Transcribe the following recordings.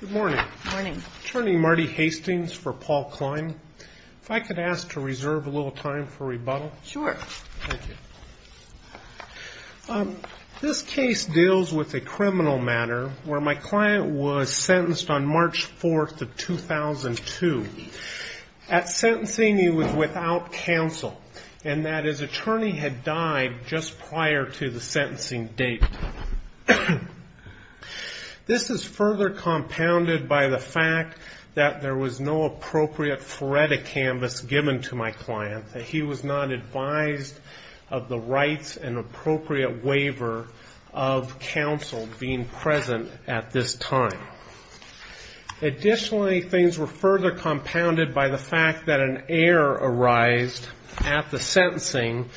Good morning. Attorney Marty Hastings for Paul Klein. If I could ask to reserve a little time for rebuttal? Sure. Thank you. This case deals with a criminal matter where my client was sentenced on March 4th of 2002. At sentencing he was without counsel and that his attorney had died just prior to the sentencing date. This is further compounded by the fact that there was no appropriate phoretic canvas given to my client, that he was not advised of the rights and appropriate waiver of counsel being present at this time. Additionally, things were further compounded by the fact that an error arised at the sentencing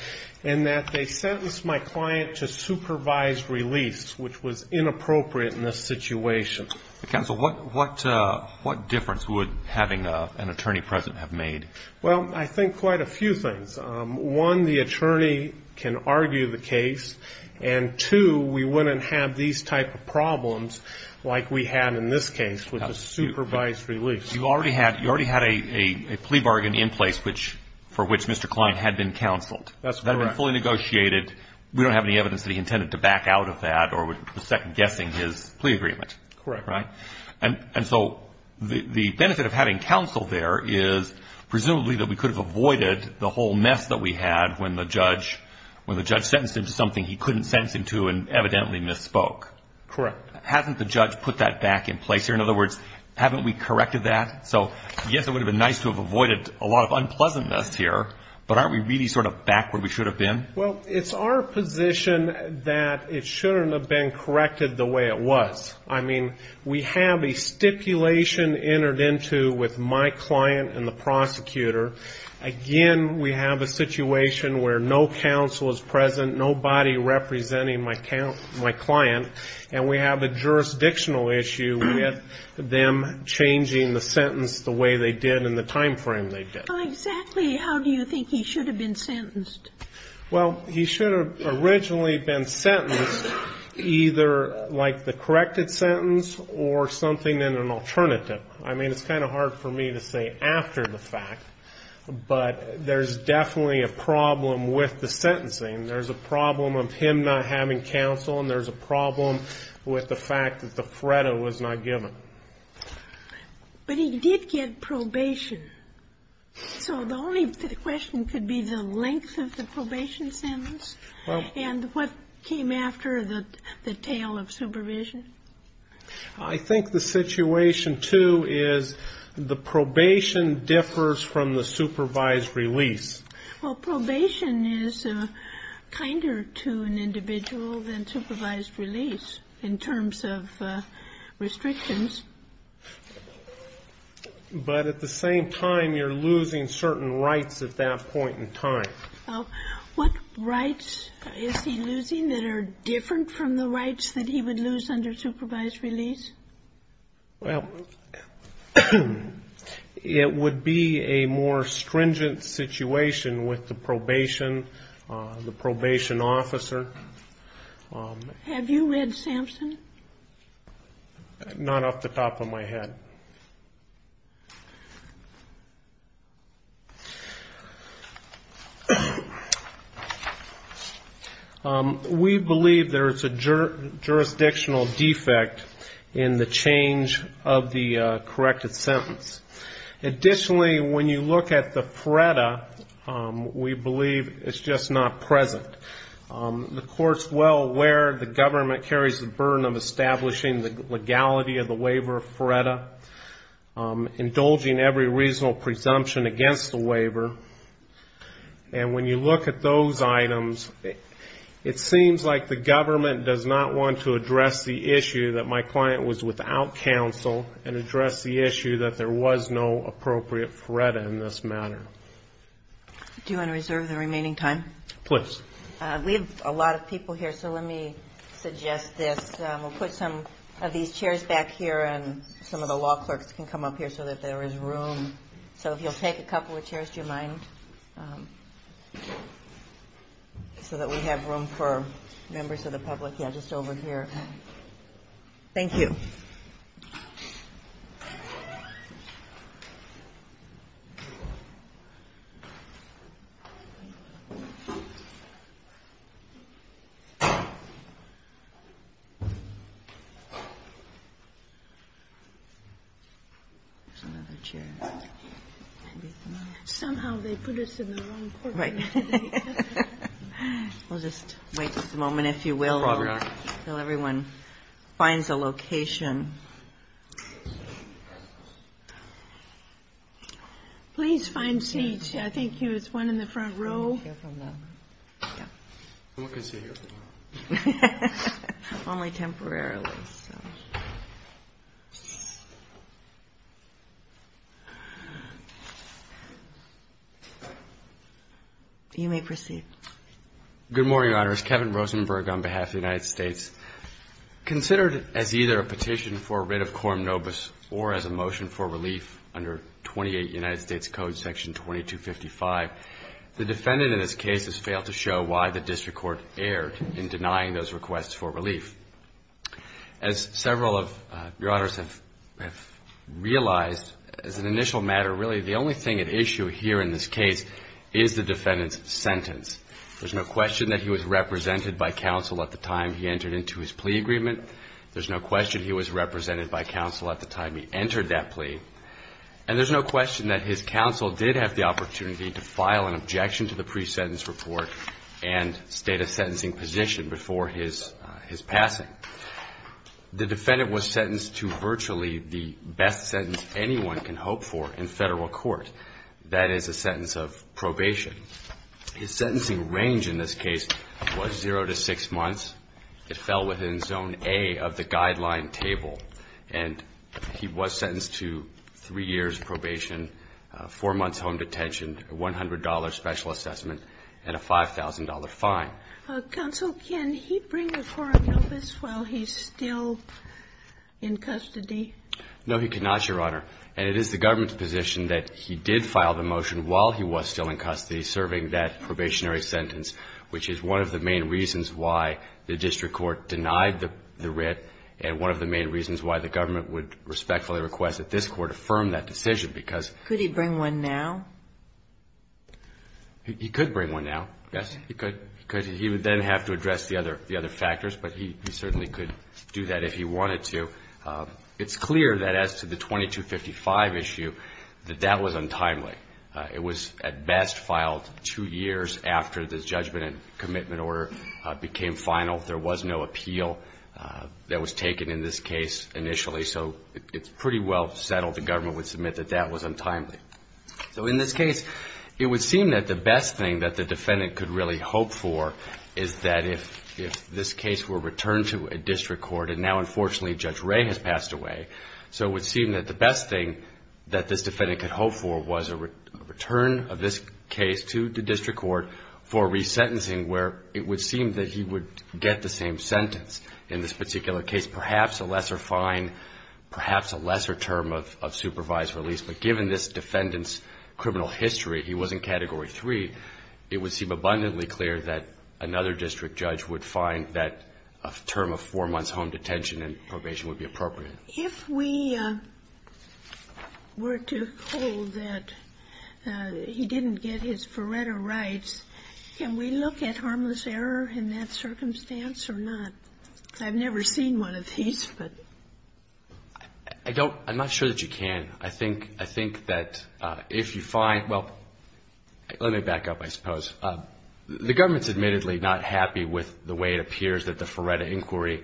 in that they sentenced my client to supervised release, which was inappropriate in this situation. Counsel, what difference would having an attorney present have made? Well, I think quite a few things. One, the attorney can argue the case. And two, we wouldn't have these type of problems like we had in this case with the supervised release. You already had a plea bargain in place for which Mr. Klein had been counseled. That's correct. That had been fully negotiated. We don't have any evidence that he intended to back out of that or was second-guessing his plea agreement. Correct. Right? And so the benefit of having counsel there is presumably that we could have avoided the whole mess that we had when the judge sentenced him to something he couldn't sentence him to and evidently misspoke. Correct. Hasn't the judge put that back in place here? In other words, haven't we corrected that? So, yes, it would have been nice to have avoided a lot of unpleasantness here, but aren't we really sort of back where we should have been? Well, it's our position that it shouldn't have been corrected the way it was. I mean, we have a stipulation entered into with my client and the prosecutor. Again, we have a situation where no counsel is present, nobody representing my client, and we have a jurisdictional issue with them changing the sentence the way they did in the time frame they did. Well, exactly how do you think he should have been sentenced? Well, he should have originally been sentenced either like the corrected sentence or something in an alternative. I mean, it's kind of hard for me to say after the fact, but there's definitely a problem with the sentencing. There's a problem of him not having counsel, and there's a problem with the fact that the FREDA was not given. But he did get probation. So the only question could be the length of the probation sentence and what came after the tale of supervision. I think the situation, too, is the probation differs from the supervised release. Well, probation is kinder to an individual than supervised release in terms of restrictions. But at the same time, you're losing certain rights at that point in time. What rights is he losing that are different from the rights that he would lose under supervised release? Well, it would be a more stringent situation with the probation, the probation officer. Have you read Sampson? Not off the top of my head. We believe there is a jurisdictional defect in the change of the corrected sentence. Additionally, when you look at the FREDA, we believe it's just not present. The court's well aware the government carries the burden of establishing the FREDA, indulging every reasonable presumption against the waiver. And when you look at those items, it seems like the government does not want to address the issue that my client was without counsel and address the issue that there was no appropriate FREDA in this matter. Do you want to reserve the remaining time? Please. We have a lot of people here, so let me suggest this. We'll put some of these chairs back here, and some of the law clerks can come up here so that there is room. So if you'll take a couple of chairs, do you mind? So that we have room for members of the public. Yeah, just over here. Thank you. There's another chair. Somehow they put us in the wrong corner. Right. We'll just wait a moment, if you will, until everyone finds a location. Please find seats. I think there's one in the front row. I'm going to sit here. Only temporarily. You may proceed. Good morning, Your Honors. Kevin Rosenberg on behalf of the United States. Considered as either a petition for writ of coram nobis or as a motion for relief under 28 United States Code section 2255, the defendant in this case has failed to show why the district court erred in denying those requests for relief. As several of Your Honors have realized, as an initial matter, really the only thing at issue here in this case is the defendant's sentence. There's no question that he was represented by counsel at the time he entered into his plea agreement. There's no question he was represented by counsel at the time he entered that plea. And there's no question that his counsel did have the opportunity to file an objection to the pre-sentence report and state a sentencing position before his passing. The defendant was sentenced to virtually the best sentence anyone can hope for in federal court. That is a sentence of probation. His sentencing range in this case was zero to six months. It fell within zone A of the guideline table. And he was sentenced to three years probation, four months home detention, a $100 specialist assessment, and a $5,000 fine. Sotomayor, can he bring a forum notice while he's still in custody? No, he cannot, Your Honor. And it is the government's position that he did file the motion while he was still in custody serving that probationary sentence, which is one of the main reasons why the district court denied the writ and one of the main reasons why the government would respectfully request that this Court affirm that decision, because ---- Could he bring one now? He could bring one now, yes, he could. He would then have to address the other factors, but he certainly could do that if he wanted to. It's clear that as to the 2255 issue, that that was untimely. It was at best filed two years after the judgment and commitment order became final. There was no appeal that was taken in this case initially. So it's pretty well settled the government would submit that that was untimely. So in this case, it would seem that the best thing that the defendant could really hope for is that if this case were returned to a district court, and now unfortunately Judge Ray has passed away, so it would seem that the best thing that this defendant could hope for was a return of this case to the district court for resentencing, where it would seem that he would get the same sentence in this particular case, perhaps a lesser fine, perhaps a lesser term of supervised release. But given this defendant's criminal history, he was in Category 3, it would seem abundantly clear that another district judge would find that a term of four months home detention and probation would be appropriate. If we were to hold that he didn't get his Faretto rights, can we look at harmless error in that circumstance or not? I've never seen one of these, but. I don't, I'm not sure that you can. I think that if you find, well, let me back up, I suppose. The government's admittedly not happy with the way it appears that the Faretto inquiry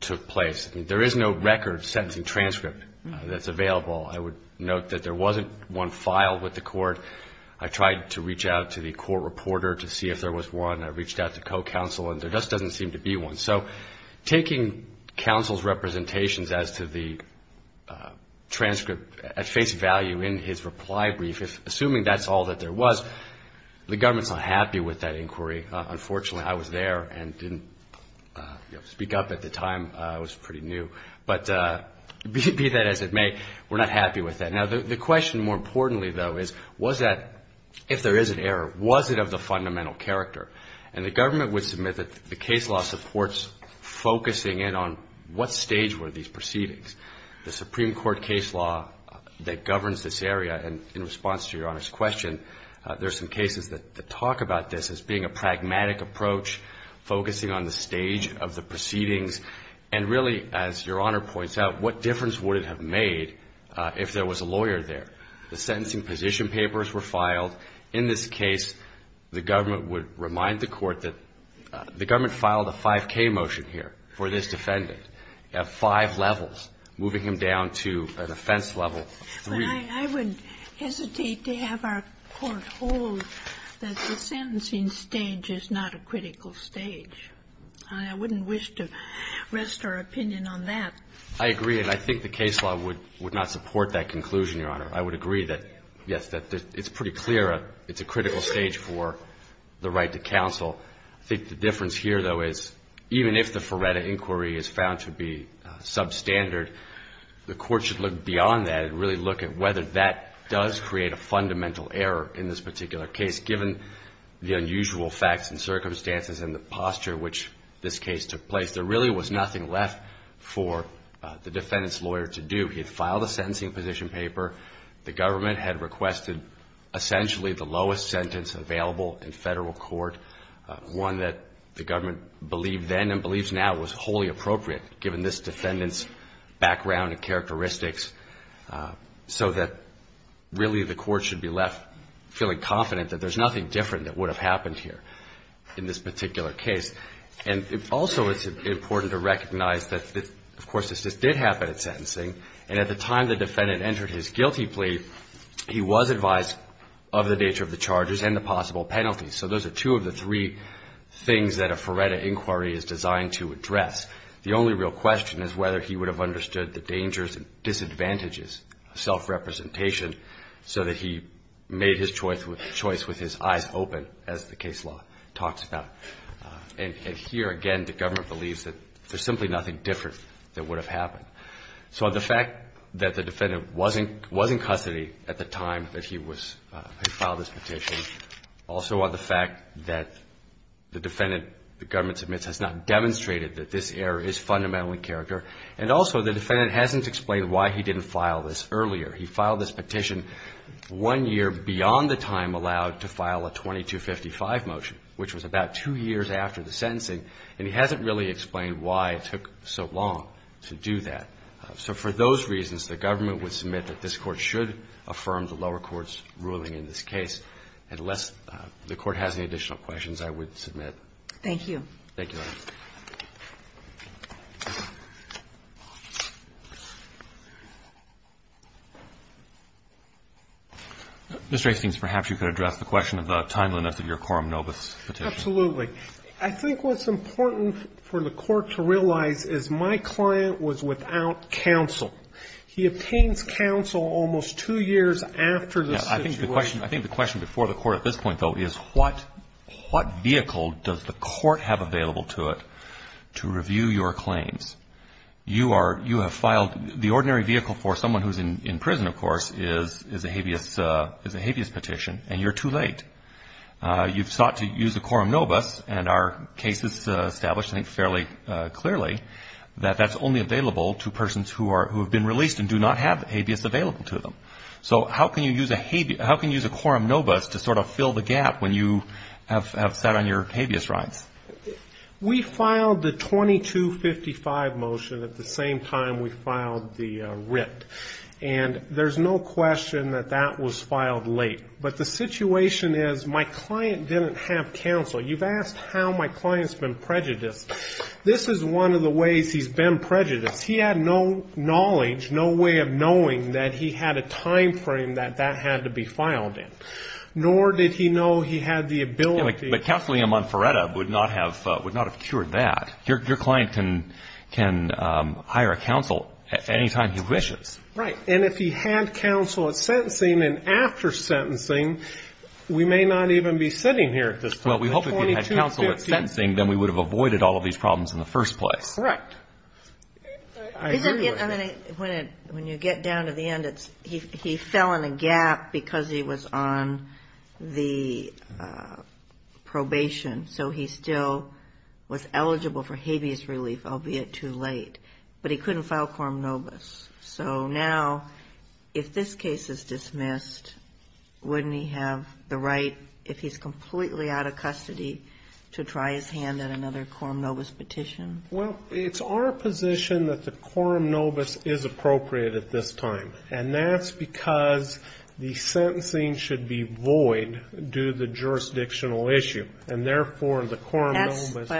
took place. There is no record sentencing transcript that's available. I would note that there wasn't one filed with the court. I tried to reach out to the court reporter to see if there was one. I reached out to co-counsel, and there just doesn't seem to be one. Taking counsel's representations as to the transcript at face value in his reply brief, assuming that's all that there was, the government's not happy with that inquiry. Unfortunately, I was there and didn't speak up at the time. I was pretty new. But be that as it may, we're not happy with that. Now, the question more importantly, though, is was that, if there is an error, was it of the fundamental character? The government would submit that the case law supports focusing in on what stage were these proceedings. The Supreme Court case law that governs this area, and in response to Your Honor's question, there's some cases that talk about this as being a pragmatic approach, focusing on the stage of the proceedings, and really, as Your Honor points out, what difference would it have made if there was a lawyer there? The sentencing position papers were filed. In this case, the government would remind the Court that the government filed a 5K motion here for this defendant. You have five levels, moving him down to an offense level three. I would hesitate to have our Court hold that the sentencing stage is not a critical stage. I wouldn't wish to rest our opinion on that. I agree, and I think the case law would not support that conclusion, Your Honor. I would agree that, yes, that it's pretty clear it's a critical stage for the right to counsel. I think the difference here, though, is, even if the Feretta inquiry is found to be substandard, the Court should look beyond that and really look at whether that does create a fundamental error in this particular case, given the unusual facts and circumstances and the posture in which this case took place. There really was nothing left for the defendant's lawyer to do. He had filed a sentencing position paper. The government had requested essentially the lowest sentence available in Federal court, one that the government believed then and believes now was wholly appropriate, given this defendant's background and characteristics, so that really the Court should be left feeling confident that there's nothing different that would have happened here in this particular case. And also it's important to recognize that, of course, this did happen at sentencing, and at the time the defendant entered his guilty plea, he was advised of the nature of the charges and the possible penalties. So those are two of the three things that a Feretta inquiry is designed to address. The only real question is whether he would have understood the dangers and disadvantages of self-representation so that he made his choice with his eyes open, as the case law talks about. And here, again, the government believes that there's simply nothing different that would have happened. So the fact that the defendant was in custody at the time that he filed this petition, also on the fact that the defendant, the government submits, has not demonstrated that this error is fundamentally in character, and also the defendant hasn't explained why he didn't file this earlier. He filed this petition one year beyond the time allowed to file a 2255 motion, which was about two years after the sentencing, and he hasn't really explained why it took so long to do that. So for those reasons, the government would submit that this Court should affirm the lower court's ruling in this case. Unless the Court has any additional questions, I would submit. Thank you. Thank you, Your Honor. Mr. Hastings, perhaps you could address the question of the timeliness of your quorum nobis petition. Absolutely. I think what's important for the Court to realize is my client was without counsel. He obtains counsel almost two years after the situation. I think the question before the Court at this point, though, is what vehicle does the Court have available to it to review your claims? You are, you have filed, the ordinary vehicle for someone who's in prison, of course, is a habeas petition, and you're too late. You've sought to use a quorum nobis, and our case has established fairly clearly that that's only available to persons who have been released and do not have habeas available to them. So how can you use a quorum nobis to sort of fill the gap when you have sat on your habeas rights? We filed the 2255 motion at the same time we filed the writ, and there's no question that that was filed late. But the situation is my client didn't have counsel. You've asked how my client's been prejudiced. This is one of the ways he's been prejudiced. He had no knowledge, no way of knowing that he had a time frame that that had to be filed in, nor did he know he had the ability. But counseling him on Faretta would not have cured that. Your client can hire a counsel anytime he wishes. Right. And if he had counsel at sentencing and after sentencing, we may not even be sitting here at this point. Well, we hope if he had counsel at sentencing, then we would have avoided all of these problems in the first place. Correct. When you get down to the end, he fell in the gap because he was on the probation, so he still was eligible for habeas relief, albeit too late. But he couldn't file quorum nobis. So now, if this case is dismissed, wouldn't he have the right, if he's completely out of custody, to try his hand at another quorum nobis petition? Well, it's our position that the quorum nobis is appropriate at this time. And that's because the sentencing should be void due to the jurisdictional issue. And therefore, the quorum nobis...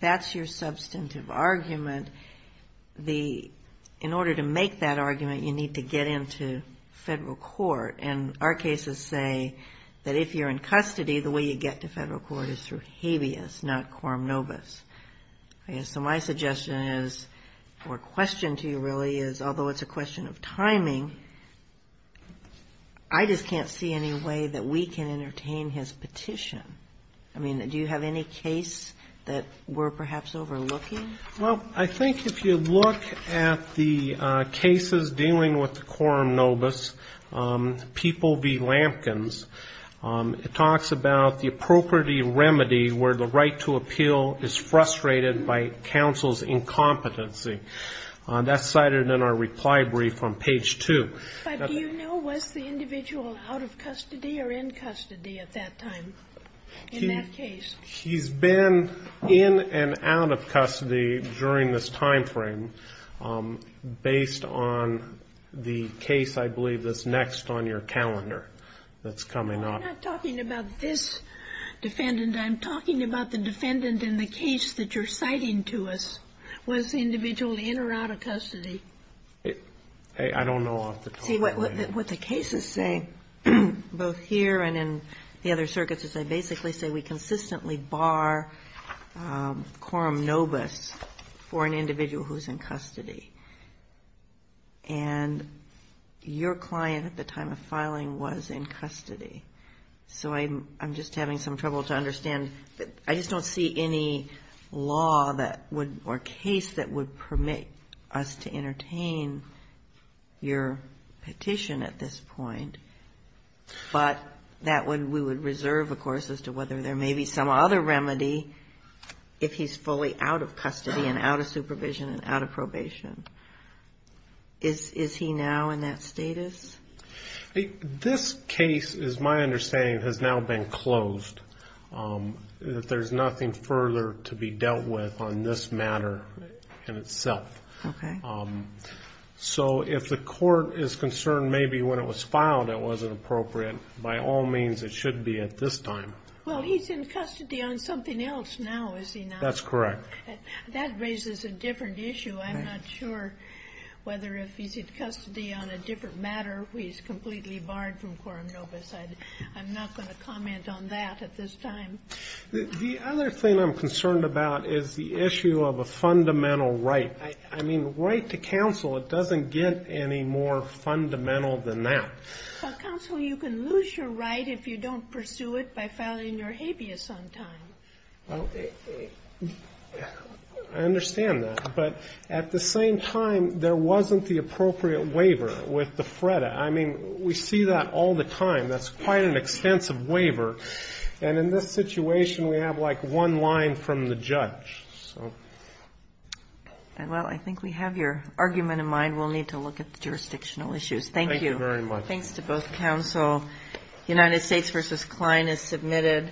That's your substantive argument. In order to make that argument, you need to get into federal court. And our cases say that if you're in custody, the way you get to federal court is through habeas, not quorum nobis. So my suggestion is, or question to you really is, although it's a question of timing, I just can't see any way that we can entertain his petition. I mean, do you have any case that we're perhaps overlooking? Well, I think if you look at the cases dealing with the quorum nobis, People v. Lampkins, it talks about the appropriate remedy where the right to appeal is frustrated by counsel's incompetency. That's cited in our reply brief on page 2. But do you know, was the individual out of custody or in custody at that time, in that case? He's been in and out of custody during this time frame based on the case, I believe, that's next on your calendar that's coming up. I'm not talking about this defendant. I'm talking about the defendant in the case that you're citing to us. Was the individual in or out of custody? I don't know off the top of my head. What the case is saying, both here and in the other circuits, is they basically say we consistently bar quorum nobis for an individual who's in custody. And your client at the time of filing was in custody. So I'm just having some trouble to understand. I just don't see any law or case that would permit us to entertain your petition at this point. But we would reserve, of course, as to whether there may be some other remedy if he's fully out of custody and out of supervision and out of probation. Is he now in that status? This case, is my understanding, has now been closed. There's nothing further to be dealt with on this matter in itself. So if the court is concerned maybe when it was filed it wasn't appropriate, by all means it should be at this time. Well, he's in custody on something else now, is he not? That's correct. That raises a different issue. I'm not sure whether if he's in custody on a different matter, he's completely barred from quorum nobis. I'm not going to comment on that at this time. The other thing I'm concerned about is the issue of a fundamental right. I mean, right to counsel, it doesn't get any more fundamental than that. Counsel, you can lose your right if you don't pursue it by filing your habeas on time. Well, I understand that. But at the same time, there wasn't the appropriate waiver with the FREDA. I mean, we see that all the time. That's quite an extensive waiver. And in this situation, we have like one line from the judge. Well, I think we have your argument in mind. We'll need to look at the jurisdictional issues. Thank you. Thank you very much. Thanks to both counsel. United States v. Kline is submitted.